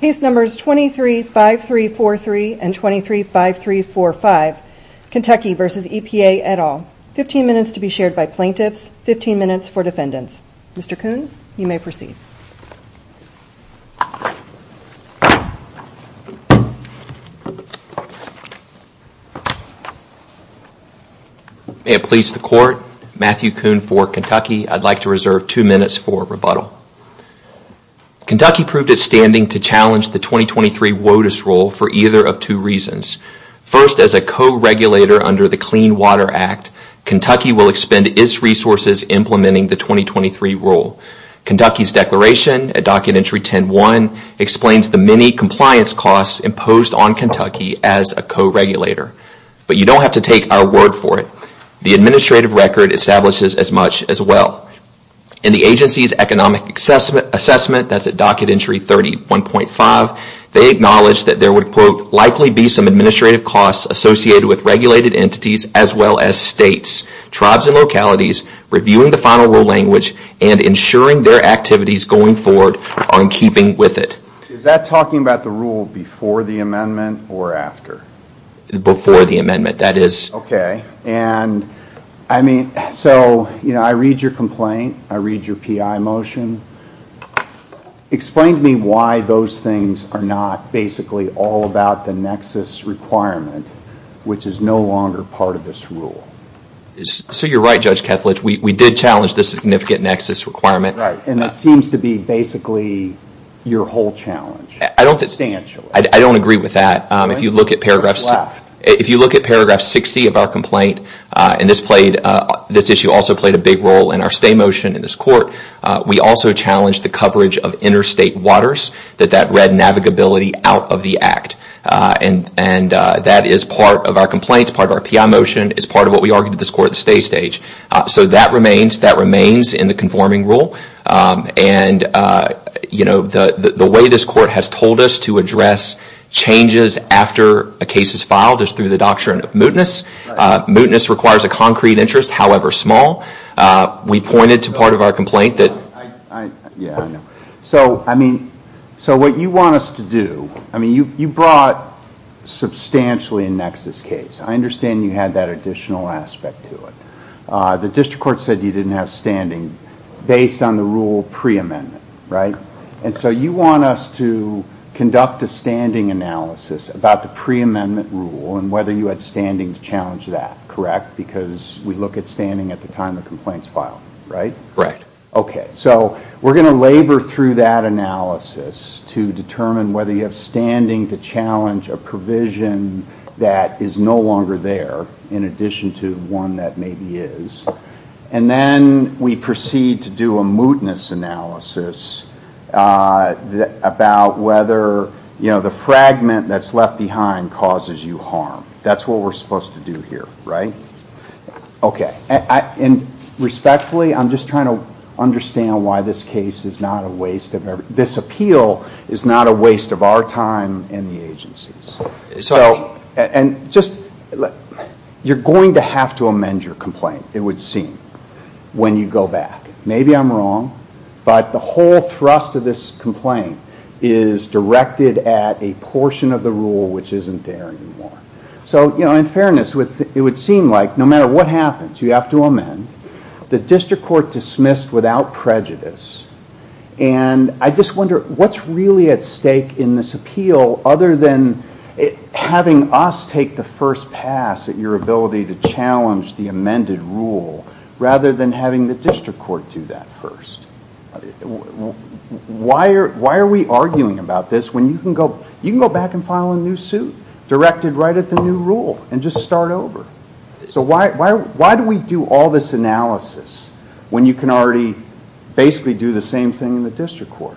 Case numbers 23-5343 and 23-5345, Kentucky v. EPA et al. Fifteen minutes to be shared by plaintiffs, fifteen minutes for defendants. Mr. Kuhn, you may proceed. May it please the Court, Matthew Kuhn for Kentucky. I'd like to reserve two minutes for rebuttal. Kentucky proved its standing to challenge the 2023 WOTUS rule for either of two reasons. First, as a co-regulator under the Clean Water Act, Kentucky will expend its resources implementing the 2023 rule. Kentucky's declaration at Document 10-1 explains the many compliance costs imposed on Kentucky as a co-regulator. But you don't have to do that. Kentucky's Economic Assessment, that's at Docket Entry 30-1.5, they acknowledge that there would, quote, likely be some administrative costs associated with regulated entities as well as states, tribes, and localities reviewing the final rule language and ensuring their activities going forward are in keeping with it. Is that talking about the rule before the amendment or after? Before the amendment, that is. Okay. And I mean, so, you know, I read your PI motion. Explain to me why those things are not basically all about the nexus requirement, which is no longer part of this rule. So you're right, Judge Kethledge. We did challenge the significant nexus requirement. Right. And it seems to be basically your whole challenge, substantially. I don't agree with that. If you look at paragraph 60 of our complaint, and this issue also played a big role in our stay motion in this court, we also challenged the coverage of interstate waters, that that read navigability out of the act. And that is part of our complaints, part of our PI motion, it's part of what we argued in this court at the stay stage. So that remains in the conforming rule. And, you know, the way this court has told us to address changes after a case is filed is through the doctrine of mootness. Mootness requires a concrete interest, however small. We pointed to part of our complaint that... So, I mean, so what you want us to do, I mean, you brought substantially a nexus case. I understand you had that additional aspect to it. The district court said you didn't have standing based on the rule pre-amendment, right? And so you want us to conduct a standing analysis about the pre-amendment rule and whether you had standing to challenge that, correct? Because we look at standing at the time the complaint is filed, right? Right. So we're going to labor through that analysis to determine whether you have standing to challenge a provision that is no longer there, in addition to one that maybe is. And then we proceed to do a mootness analysis about whether, you know, the fragment that's left behind causes you harm. That's what we're supposed to do here, right? Okay. And respectfully, I'm just trying to understand why this case is not a waste of... This appeal is not a waste of our time and the agency's. So, and just, you're going to have to amend your complaint, it would seem, when you go back. Maybe I'm wrong, but the whole thrust of this complaint is directed at a portion of the rule which isn't there anymore. So, you know, in fairness, it would seem like no matter what happens, you have to amend. The district court dismissed without prejudice. And I just wonder, what's really at stake in this appeal other than having us take the first pass at your ability to challenge the amended rule rather than having the district court do that first? Why are we arguing about this when you can go back and file a new suit directed right at the new rule and just start over? So why do we do all this analysis when you can already basically do the same thing in the district court?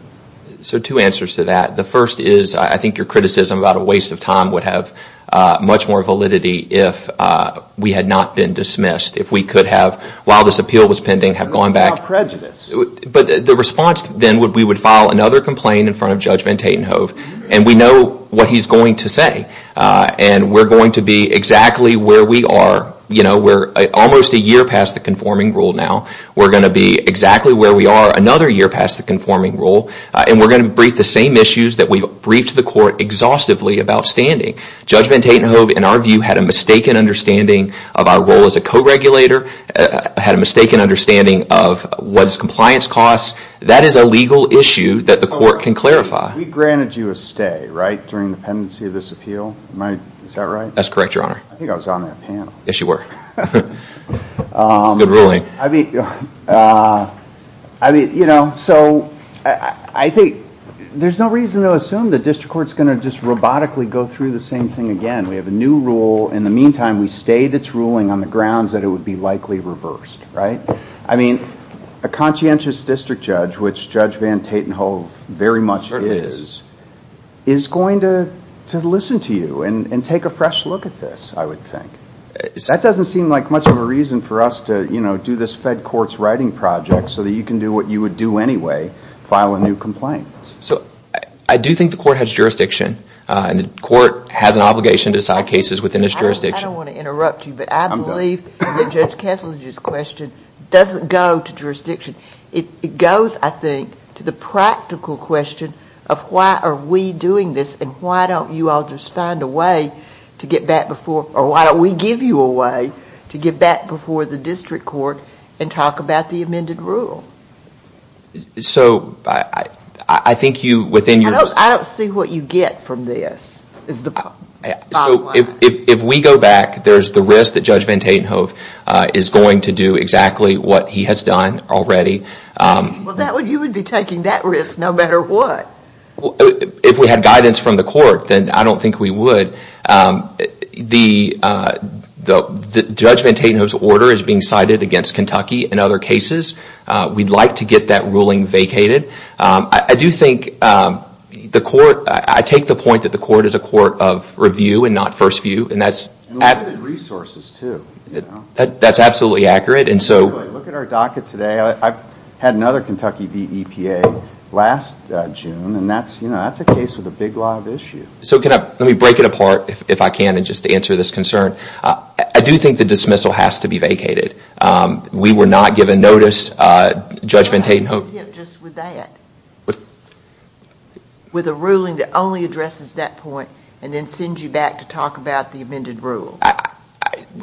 So two answers to that. The first is, I think your criticism about a waste of time would have much more validity if we had not been dismissed. If we could have, while this appeal was pending, have gone back... Without prejudice. But the response then would be we would file another complaint in front of Judge Van Tatenhove and we know what he's going to say. And we're going to be exactly where we are. You know, almost a year past the conforming rule now. We're going to be exactly where we are another year past the conforming rule. And we're going to brief the same issues that we briefed the court exhaustively about standing. Judge Van Tatenhove, in our view, had a mistaken understanding of our role as a co-regulator, had a mistaken understanding of what's compliance costs. That is a legal issue that the court can clarify. We granted you a stay, right, during the pendency of this appeal? Is that right? That's correct, your honor. I think I was on that panel. Yes, you were. It's a good ruling. I mean, you know, so I think there's no reason to assume the district court's going to just robotically go through the same thing again. We have a new rule. In the meantime, we stayed its ruling on the grounds that it would be likely reversed, right? I mean, a conscientious district judge, which Judge Van Tatenhove very much is, is going to listen to you and take a fresh look at this, I would think. That doesn't seem like much of a reason for us to, you know, do this fed court's writing project so that you can do what you would do anyway, file a new complaint. So I do think the court has jurisdiction, and the court has an obligation to decide cases within its jurisdiction. I don't want to interrupt you, but I believe that Judge Kessler's question doesn't go to jurisdiction. It goes, I think, to the practical question of why are we doing this, and why don't you all just find a way to get back before, or why don't we give you a way to get back before the district court and talk about the amended rule? So I think you, within your... I don't see what you get from this, is the bottom line. So if we go back, there's the risk that Judge Van Tatenhove is going to do exactly what he has done already. Well, you would be taking that risk no matter what. If we had guidance from the court, then I don't think we would. Judge Van Tatenhove's order is being cited against Kentucky and other cases. We'd like to get that ruling vacated. I do think the court... I take the point that the court is a court of review and not first view, and that's... And limited resources, too. That's absolutely accurate, and so... Look at our docket today. I had another Kentucky v. EPA last June, and that's a case with a big lot of issue. So can I... Let me break it apart, if I can, and just answer this concern. I do think the dismissal has to be vacated. We were not given notice. Judge Van Tatenhove... I have a tip just with that. With a ruling that only addresses that point, and then send you back to talk about the amended rule.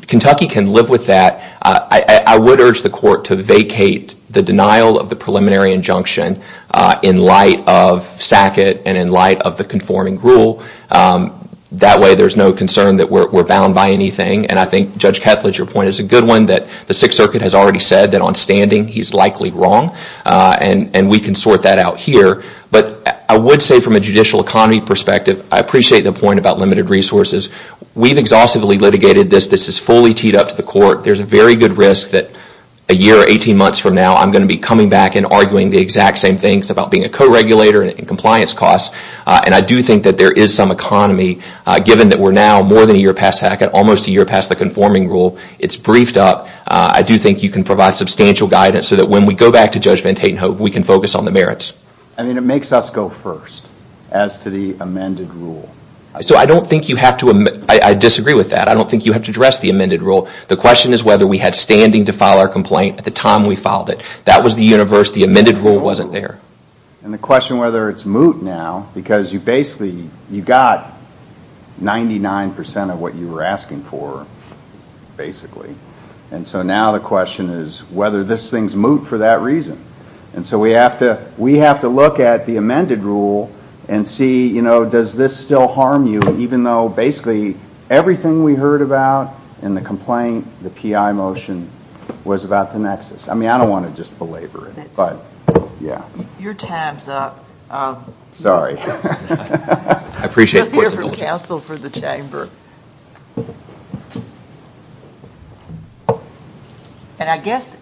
Kentucky can live with that. I would urge the court to vacate the denial of the preliminary injunction in light of Sackett and in light of the conforming rule. That way, there's no concern that we're bound by anything. And I think, Judge Kethledge, your point is a good one, that the Sixth Circuit has already said that on standing, he's likely wrong. And we can sort that out here. But I would say from a judicial economy perspective, I appreciate the point about limited resources. We've exhaustively litigated this. This is fully teed up to the court. There's a very good risk that a year or 18 months from now, I'm going to be coming back and arguing the exact same things about being a co-regulator and compliance costs. And I do think that there is some economy, given that we're now more than a year past Sackett, almost a year past the conforming rule. It's briefed up. I do think you can provide substantial guidance so that when we go back to Judge Van Tatenhove, we can focus on the merits. I mean, it makes us go first as to the amended rule. So I don't think you have to... I disagree with that. I don't think you have to address the amended rule. The question is whether we had standing to file our complaint at the time we filed it. That was the universe. The amended rule wasn't there. And the question whether it's moot now, because you basically, you got 99% of what you were asking for, basically. And so now the question is whether this thing's moot for that reason. And so we have to look at the amended rule and see, you know, does this still harm you, even though basically everything we heard about in the complaint, the PI motion, was about the nexus. I mean, I don't want to just belabor it, but yeah. Your time's up. Sorry. I appreciate the court's indulgence. We'll hear from counsel for the chamber. And I guess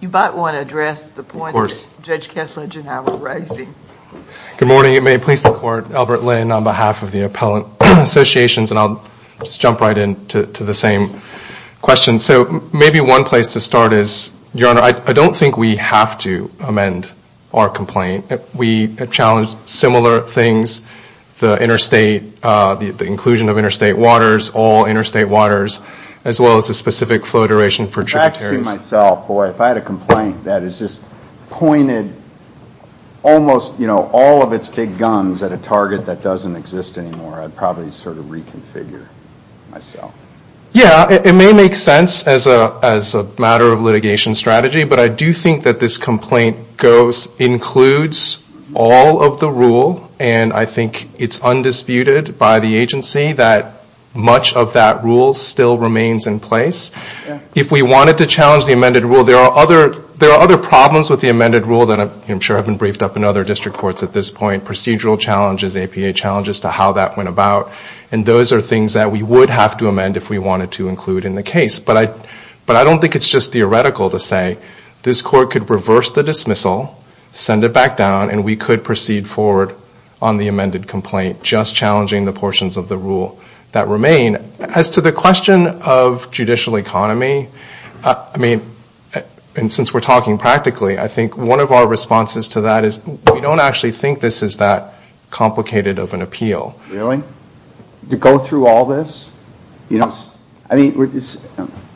you might want to address the point that Judge Kessler and Gennaro were Good morning. May it please the court. Albert Lin on behalf of the Appellant Associations. And I'll just jump right in to the same question. So maybe one place to start is, Your Honor, I don't think we have to amend our complaint. We have challenged similar things. The interstate, the inclusion of interstate waters, all interstate waters, as well as the specific flow duration for tributaries. If I had a complaint that is just pointed almost, you know, all of its big guns at a target that doesn't exist anymore, I'd probably sort of reconfigure myself. Yeah, it may make sense as a matter of litigation strategy. But I do think that this complaint includes all of the rule. And I think it's undisputed by the agency that much of that rule still remains in place. If we wanted to challenge the amended rule, there are other problems with the amended rule that I'm sure have been briefed up in other district courts at this point. Procedural challenges, APA challenges to how that went about. And those are things that we would have to amend if we wanted to include in the case. But I don't think it's just theoretical to say this court could reverse the dismissal, send it back down, and we could proceed forward on the amended complaint, just challenging the portions of the rule that remain. As to the question of judicial economy, I mean, and since we're talking practically, I think one of our responses to that is we don't actually think this is that complicated of an appeal. Really? To go through all this? You know, I mean,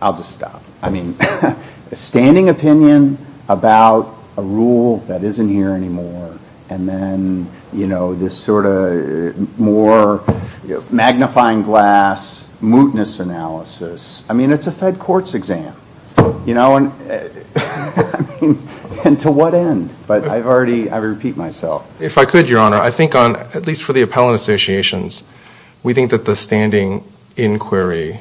I'll just stop. I mean, a standing opinion about a rule that isn't here anymore. And then, you know, this sort of more magnifying glass, mootness analysis. I mean, it's a Fed courts exam. You know, and to what end? But I've already, I repeat myself. If I could, Your Honor, I think on, at least for the appellant associations, we think that the standing inquiry,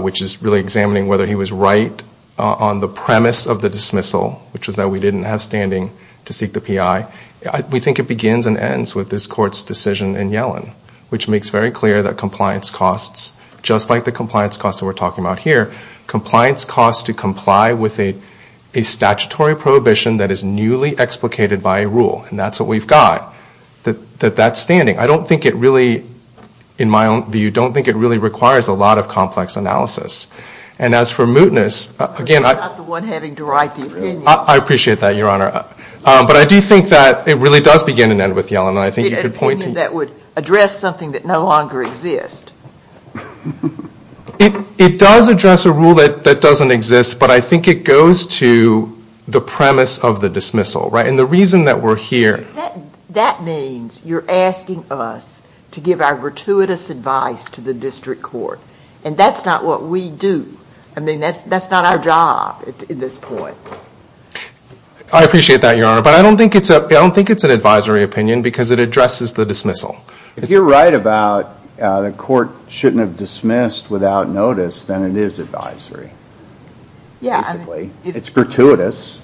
which is really examining whether he was right on the premise of the dismissal, which was that we didn't have standing to seek the PI, we think it begins and ends with this court's decision in Yellen, which makes very clear that compliance costs, just like the compliance costs that we're talking about here, compliance costs to comply with a statutory prohibition that is newly explicated by a rule. And that's what we've got, that that's standing. I don't think it really, in my own view, don't think it really requires a lot of complex analysis. And as for mootness, again, You're not the one having to write the opinion. I appreciate that, Your Honor. But I do think that it really does begin and end with Yellen. I think you could point to The opinion that would address something that no longer exists. It does address a rule that doesn't exist, but I think it goes to the premise of the dismissal, right? And the reason that we're here That means you're asking us to give our gratuitous advice to the district court. And that's not what we do. I mean, that's not our job at this point. I appreciate that, Your Honor. But I don't think it's an advisory opinion because it addresses the dismissal. If you're right about the court shouldn't have dismissed without notice, then it is advisory. It's gratuitous.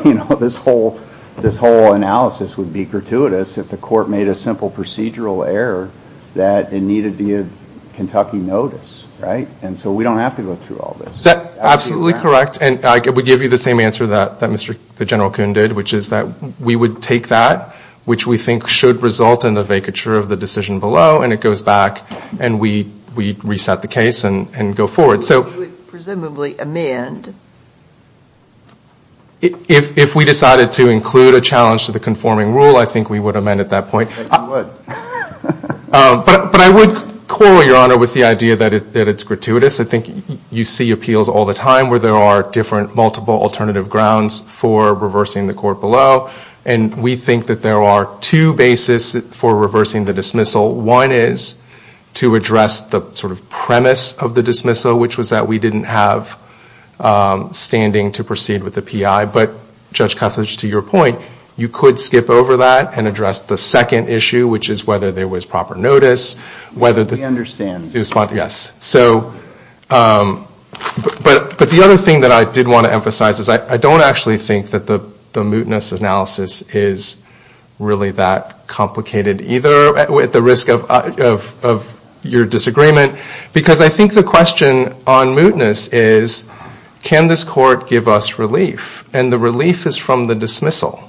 This whole analysis would be gratuitous if the court made a simple procedural error that it needed to give Kentucky notice, right? And so we don't have to go through all this. That's absolutely correct. And I would give you the same answer that Mr. General Kuhn did, which is that we would take that, which we think should result in the vacature of the decision below, and it goes back and we reset the case and go forward. So presumably amend. If we decided to include a challenge to the conforming rule, I think we would amend at that point. But I would quarrel, Your Honor, with the idea that it's gratuitous. You see appeals all the time where there are different, multiple alternative grounds for reversing the court below. And we think that there are two basis for reversing the dismissal. One is to address the sort of premise of the dismissal, which was that we didn't have standing to proceed with the PI. But Judge Cuthledge, to your point, you could skip over that and address the second issue, which is whether there was proper notice. We understand. Yes. But the other thing that I did want to emphasize is I don't actually think that the mootness analysis is really that complicated either, at the risk of your disagreement. Because I think the question on mootness is, can this court give us relief? And the relief is from the dismissal.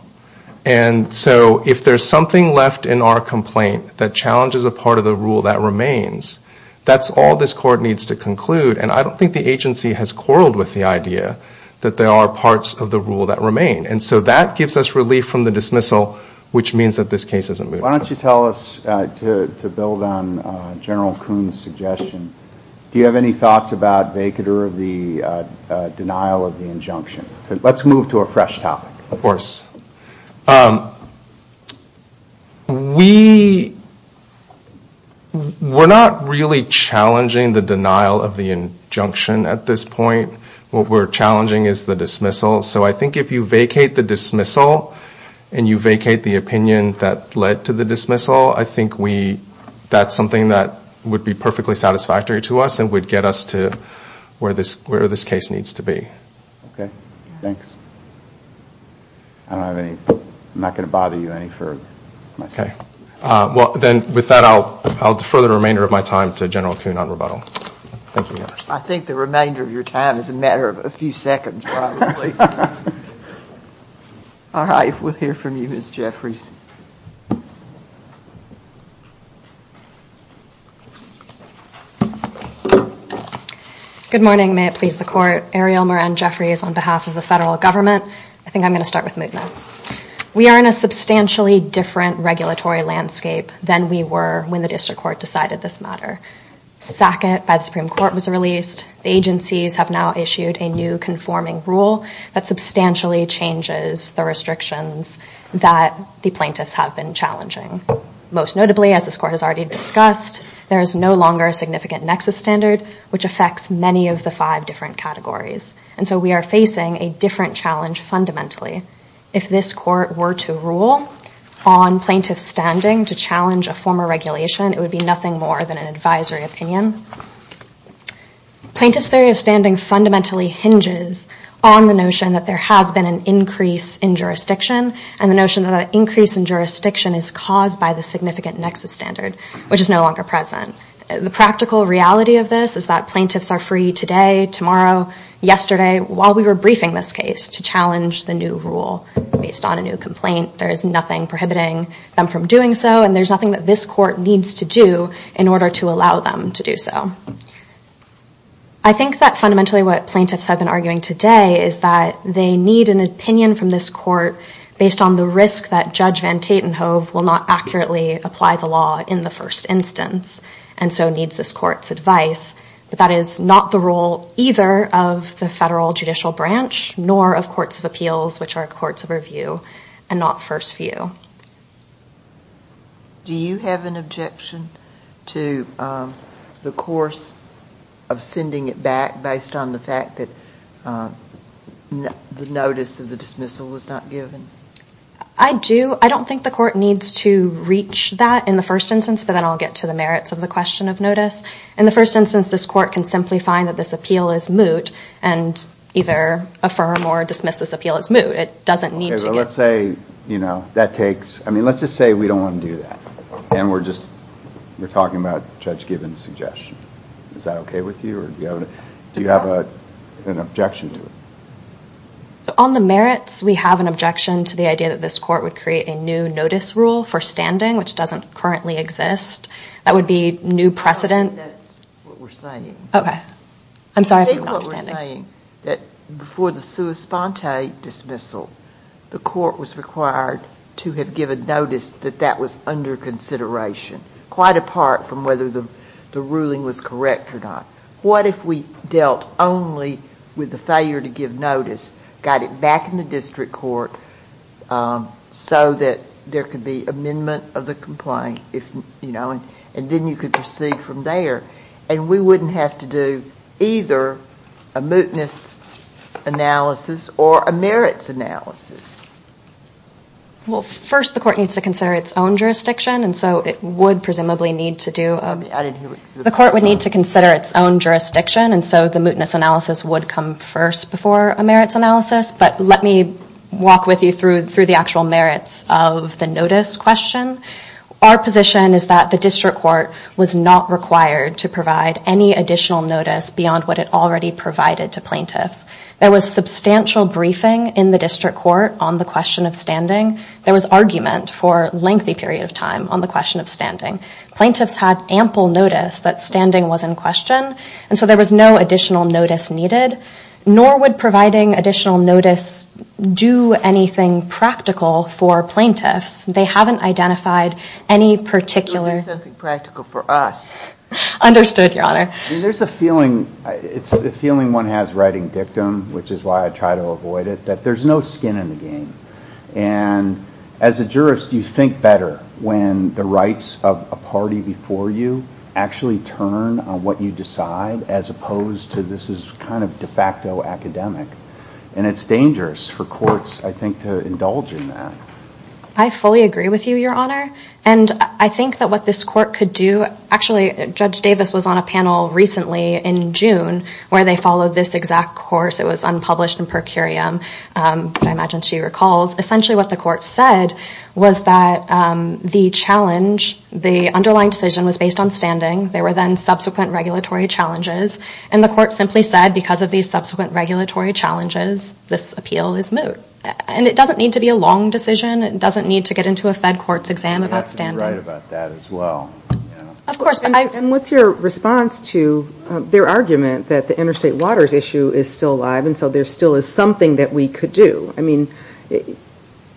And so if there's something left in our complaint that challenges a part of the rule that remains, that's all this court needs to conclude. And I don't think the agency has quarreled with the idea that there are parts of the rule that remain. And so that gives us relief from the dismissal, which means that this case isn't moot. Why don't you tell us, to build on General Kuhn's suggestion, do you have any thoughts about vacater of the denial of the injunction? Let's move to a fresh topic. Of course. We're not really challenging the denial of the injunction at this point. What we're challenging is the dismissal. So I think if you vacate the dismissal, and you vacate the opinion that led to the dismissal, I think that's something that would be perfectly satisfactory to us and would get us to where this case needs to be. Okay. Thanks. I'm not going to bother you any further. Okay. Well, then, with that, I'll defer the remainder of my time to General Kuhn on rebuttal. Thank you. I think the remainder of your time is a matter of a few seconds, probably. All right. We'll hear from you, Ms. Jeffries. Good morning. May it please the court. Ariel Moran Jeffries on behalf of the federal government. I think I'm going to start with movements. We are in a substantially different regulatory landscape than we were when the district court decided this matter. Sackett by the Supreme Court was released. The agencies have now issued a new conforming rule that substantially changes the restrictions that the plaintiffs have been challenging. Most notably, as this court has already discussed, there is no longer a significant nexus standard, which affects many of the five different categories. And so we are facing a different challenge fundamentally. If this court were to rule on plaintiff standing to challenge a former regulation, it would be nothing more than an advisory opinion. Plaintiff's theory of standing fundamentally hinges on the notion that there has been an increase in jurisdiction and the notion that that increase in jurisdiction is caused by the significant nexus standard, which is no longer present. The practical reality of this is that plaintiffs are free today, tomorrow, yesterday, while we were briefing this case to challenge the new rule based on a new complaint. There is nothing prohibiting them from doing so. And there's nothing that this court needs to do in order to allow them to do so. I think that fundamentally what plaintiffs have been arguing today is that they need an opinion from this court based on the risk that Judge Van Tatenhove will not accurately apply the law in the first instance and so needs this court's advice. But that is not the role either of the federal judicial branch nor of courts of appeals, which are courts of review and not first view. Do you have an objection to the course of sending it back based on the fact that the notice of the dismissal was not given? I do. I don't think the court needs to reach that in the first instance, but then I'll get to the merits of the question of notice. In the first instance, this court can simply find that this appeal is moot and either affirm or dismiss this appeal as moot. It doesn't need to get... Let's say, you know, that takes... I mean, let's just say we don't want to do that and we're just talking about Judge Gibbons' suggestion. Is that okay with you or do you have an objection to it? On the merits, we have an objection to the idea that this court would create a new notice rule for standing, which doesn't currently exist. That would be new precedent. That's what we're saying. Okay. I'm sorry. I think what we're saying that before the sua sponte dismissal, the court was required to have given notice that that was under consideration, quite apart from whether the ruling was correct or not. What if we dealt only with the failure to give notice, got it back in the district court so that there could be amendment of the complaint and then you could proceed from there and we wouldn't have to do either a mootness analysis or a merits analysis? Well, first the court needs to consider its own jurisdiction and so it would presumably need to do... The court would need to consider its own jurisdiction and so the mootness analysis would come first before a merits analysis. But let me walk with you through the actual merits of the notice question. Our position is that the district court was not required to provide any additional notice beyond what it already provided to plaintiffs. There was substantial briefing in the district court on the question of standing. There was argument for lengthy period of time on the question of standing. Plaintiffs had ample notice that standing was in question and so there was no additional notice needed, nor would providing additional notice do anything practical for plaintiffs. They haven't identified any particular... There is something practical for us. Understood, Your Honor. There's a feeling, it's a feeling one has writing dictum, which is why I try to avoid it, that there's no skin in the game. And as a jurist, you think better when the rights of a party before you actually turn on what you decide as opposed to this is kind of de facto academic. And it's dangerous for courts, I think, to indulge in that. I fully agree with you, Your Honor. And I think that what this court could do... Actually, Judge Davis was on a panel recently in June where they followed this exact course. It was unpublished in per curiam, but I imagine she recalls. Essentially, what the court said was that the challenge, the underlying decision was based on standing. There were then subsequent regulatory challenges. And the court simply said, because of these subsequent regulatory challenges, this appeal is moot. And it doesn't need to be a long decision. It doesn't need to get into a fed court's exam about standing. You're right about that as well. Of course. And what's your response to their argument that the interstate waters issue is still alive, and so there still is something that we could do? I mean,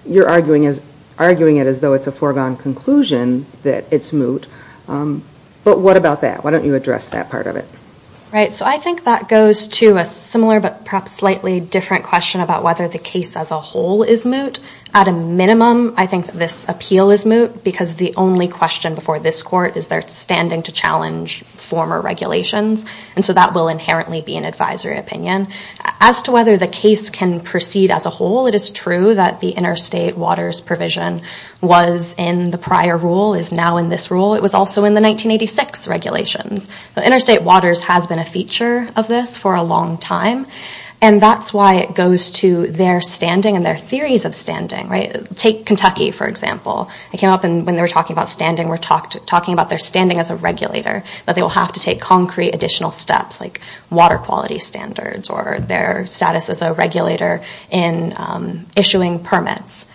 you're arguing it as though it's a foregone conclusion that it's moot. But what about that? Why don't you address that part of it? Right. So I think that goes to a similar but perhaps slightly different question about whether the case as a whole is moot. At a minimum, I think this appeal is moot because the only question before this court is they're standing to challenge former regulations. And so that will inherently be an advisory opinion. As to whether the case can proceed as a whole, it is true that the interstate waters provision was in the prior rule, is now in this rule. It was also in the 1986 regulations. Interstate waters has been a feature of this for a long time. And that's why it goes to their standing and their theories of standing, right? Take Kentucky, for example. It came up when they were talking about standing. We're talking about their standing as a regulator, that they will have to take concrete additional steps like water quality standards or their status as a regulator in issuing permits.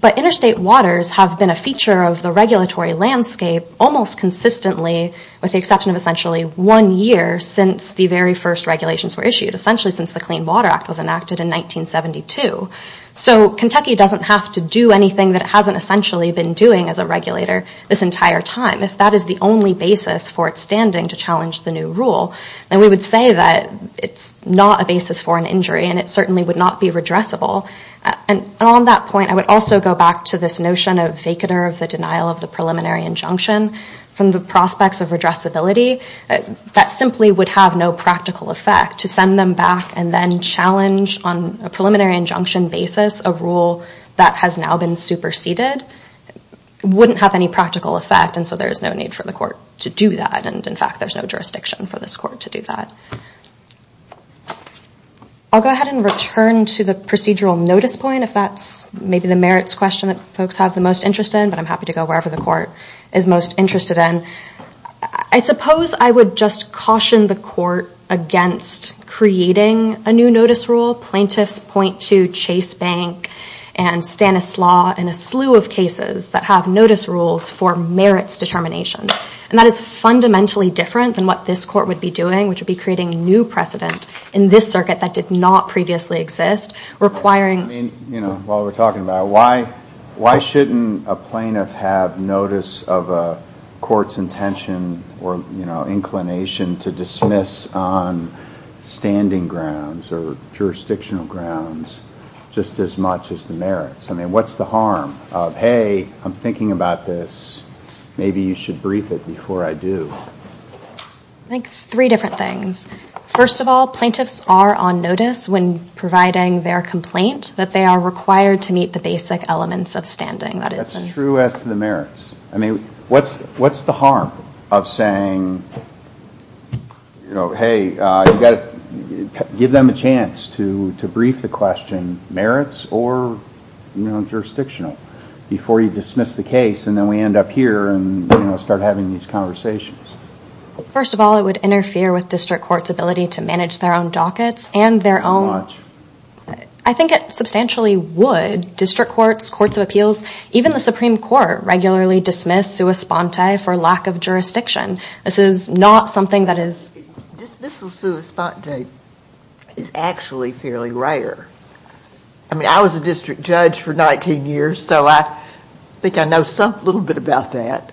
But interstate waters have been a feature of the regulatory landscape almost consistently, with the exception of essentially one year since the very first regulations were issued. Essentially since the Clean Water Act was enacted in 1972. So Kentucky doesn't have to do anything that it hasn't essentially been doing as a regulator this entire time. If that is the only basis for its standing to challenge the new rule, then we would say that it's not a basis for an injury. And it certainly would not be redressable. And on that point, I would also go back to this notion of vacaner of the denial of the preliminary injunction from the prospects of redressability. That simply would have no practical effect. To send them back and then challenge on a preliminary injunction basis a rule that has now been superseded wouldn't have any practical effect. And so there's no need for the court to do that. And in fact, there's no jurisdiction for this court to do that. I'll go ahead and return to the procedural notice point, if that's maybe the merits question that folks have the most interest in. But I'm happy to go wherever the court is most interested in. I suppose I would just caution the court against creating a new notice rule. Plaintiffs point to Chase Bank and Stanislaus and a slew of cases that have notice rules for merits determination. And that is fundamentally different than what this court would be doing, which would be creating new precedent in this circuit that did not previously exist, requiring... I mean, you know, while we're talking about it, why shouldn't a plaintiff have notice of a court's intention or inclination to dismiss on standing grounds or jurisdictional grounds just as much as the merits? I mean, what's the harm of, hey, I'm thinking about this. Maybe you should brief it before I do. I think three different things. First of all, plaintiffs are on notice when providing their complaint that they are required to meet the basic elements of standing. That's true as to the merits. I mean, what's the harm of saying, you know, hey, you've got to give them a chance to brief the question, merits or, you know, jurisdictional, before you dismiss the case and then we end up here and start having these conversations. First of all, it would interfere with district court's ability to manage their own dockets and their own... I think it substantially would. District courts, courts of appeals, even the Supreme Court regularly dismiss sua sponte for lack of jurisdiction. This is not something that is... Dismissal sua sponte is actually fairly rare. I mean, I was a district judge for 19 years, so I think I know a little bit about that.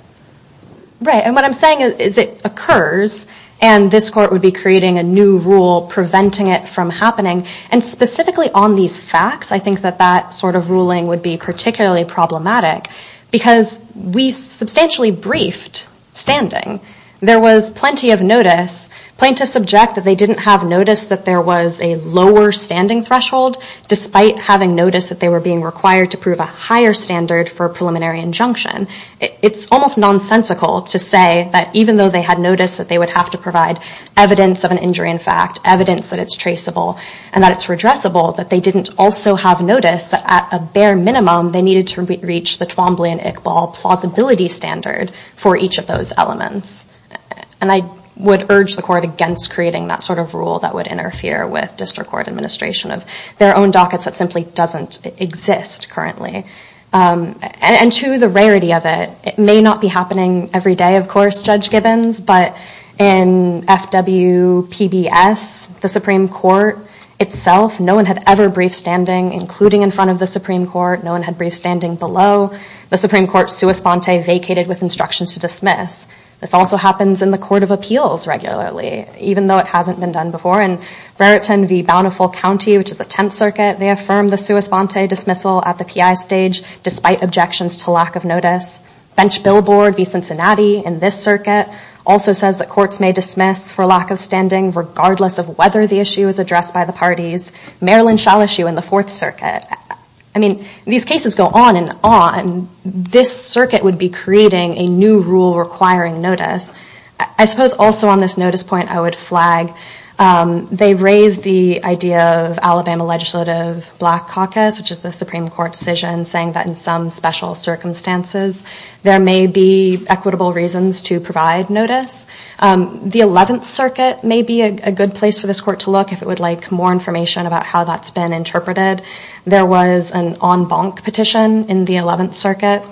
Right, and what I'm saying is it occurs and this court would be creating a new rule preventing it from happening. And specifically on these facts, I think that that sort of ruling would be particularly problematic because we substantially briefed standing. There was plenty of notice. Plaintiffs object that they didn't have notice that there was a lower standing threshold despite having notice that they were being required to prove a higher standard for preliminary injunction. It's almost nonsensical to say that even though they had notice that they would have to provide evidence of an injury in fact, evidence that it's traceable and that it's redressable, that they didn't also have notice that at a bare minimum, they needed to reach the Twombly and Iqbal plausibility standard for each of those elements. And I would urge the court against creating that sort of rule that would interfere with district court administration of their own dockets that simply doesn't exist currently. And to the rarity of it, it may not be happening every day, of course, Judge Gibbons, but in FWPBS, the Supreme Court itself, no one had ever briefed standing, including in front of the Supreme Court, no one had briefed standing below. The Supreme Court sua sponte vacated with instructions to dismiss. This also happens in the Court of Appeals regularly, even though it hasn't been done before. In Raritan v. Bountiful County, which is a 10th circuit, they affirm the sua sponte dismissal at the PI stage despite objections to lack of notice. Bench Billboard v. Cincinnati in this circuit also says that courts may dismiss for lack of standing regardless of whether the issue is addressed by the parties. Maryland Shall issue in the Fourth Circuit. I mean, these cases go on and on. This circuit would be creating a new rule requiring notice. I suppose also on this notice point, I would flag, they raised the idea of Alabama Legislative Black Caucus, which is the Supreme Court decision, saying that in some special circumstances, there may be equitable reasons to provide notice. The 11th circuit may be a good place for this court to look if it would like more information about how that's been interpreted. There was an en banc petition in the 11th circuit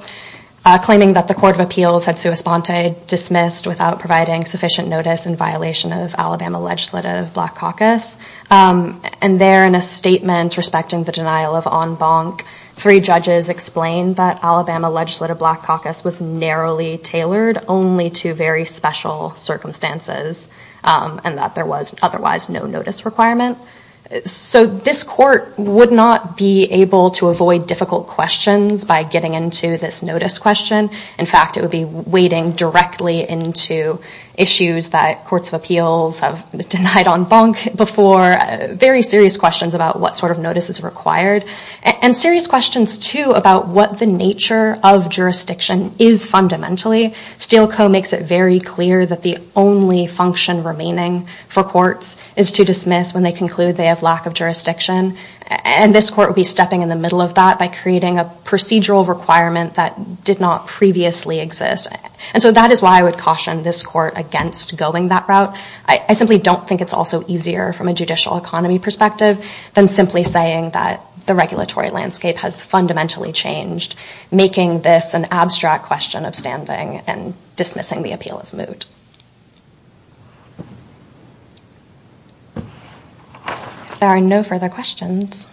claiming that the Court of Appeals had sua sponte dismissed without providing sufficient notice in violation of Alabama Legislative Black Caucus. And there in a statement respecting the denial of en banc, three judges explained that Alabama Legislative Black Caucus was narrowly tailored only to very special circumstances and that there was otherwise no notice requirement. So this court would not be able to avoid difficult questions by getting into this notice question. In fact, it would be wading directly into issues that Courts of Appeals have denied en banc before, very serious questions about what sort of notice is required. And serious questions, too, about what the nature of jurisdiction is fundamentally. Steele Co. makes it very clear that the only function remaining for courts is to dismiss when they conclude they have lack of jurisdiction. And this court would be stepping in the middle of that by creating a procedural requirement that did not previously exist. And so that is why I would caution this court against going that route. I simply don't think it's also easier from a judicial economy perspective than simply saying that the regulatory landscape has fundamentally changed, making this an abstract question of standing and dismissing the appeal as moot. If there are no further questions,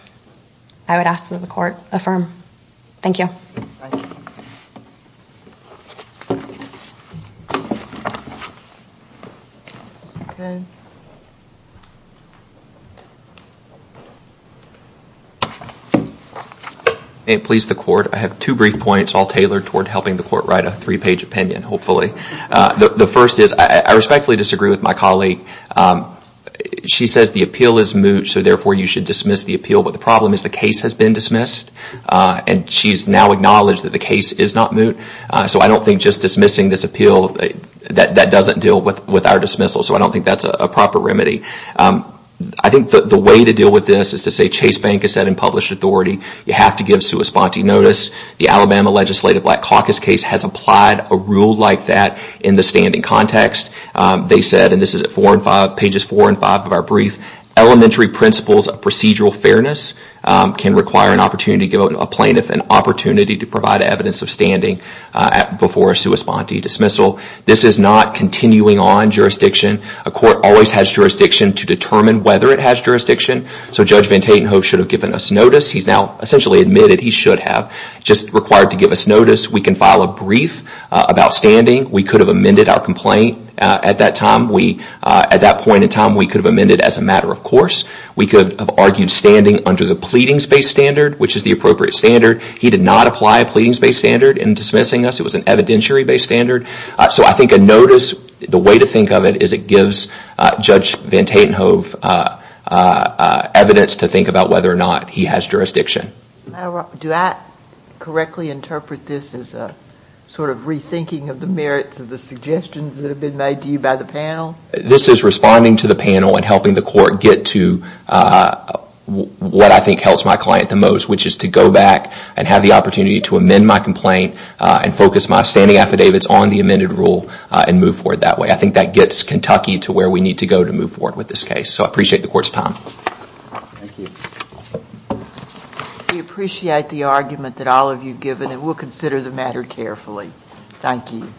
I would ask that the court affirm. Thank you. May it please the court. I have two brief points, all tailored toward helping the court write a three-page opinion, hopefully. The first is I respectfully disagree with my colleague. She says the appeal is moot, so therefore you should dismiss the appeal. But the problem is the case has been dismissed. And she's now acknowledged that the case is not moot. So I don't think just dismissing this appeal, that doesn't deal with our dismissal. So I don't think that's a proper remedy. I think that the way to deal with this is to say Chase Bank has said in published authority, you have to give sua sponte notice. The Alabama Legislative Black Caucus case has applied a rule like that in the standing context. They said, and this is at pages four and five of our brief, elementary principles of procedural fairness can require an opportunity to give a plaintiff an opportunity to provide evidence of standing before a sua sponte dismissal. This is not continuing on jurisdiction. A court always has jurisdiction to determine whether it has jurisdiction. So Judge Van Tatenhove should have given us notice. He's now essentially admitted he should have, just required to give us notice. We can file a brief about standing. We could have amended our complaint at that time. At that point in time, we could have amended as a matter of course. We could have argued standing under the pleadings-based standard, which is the appropriate standard. He did not apply a pleadings-based standard in dismissing us. It was an evidentiary-based standard. So I think a notice, the way to think of it is it gives Judge Van Tatenhove evidence to think about whether or not he has jurisdiction. Do I correctly interpret this as a sort of rethinking of the merits of the suggestions that have been made to you by the panel? This is responding to the panel and helping the court get to what I think helps my client the most, which is to go back and have the opportunity to amend my complaint and focus my standing affidavits on the amended rule and move forward that way. I think that gets Kentucky to where we need to go to move forward with this case. So I appreciate the court's time. Thank you. We appreciate the argument that all of you have given and we'll consider the matter carefully. Thank you.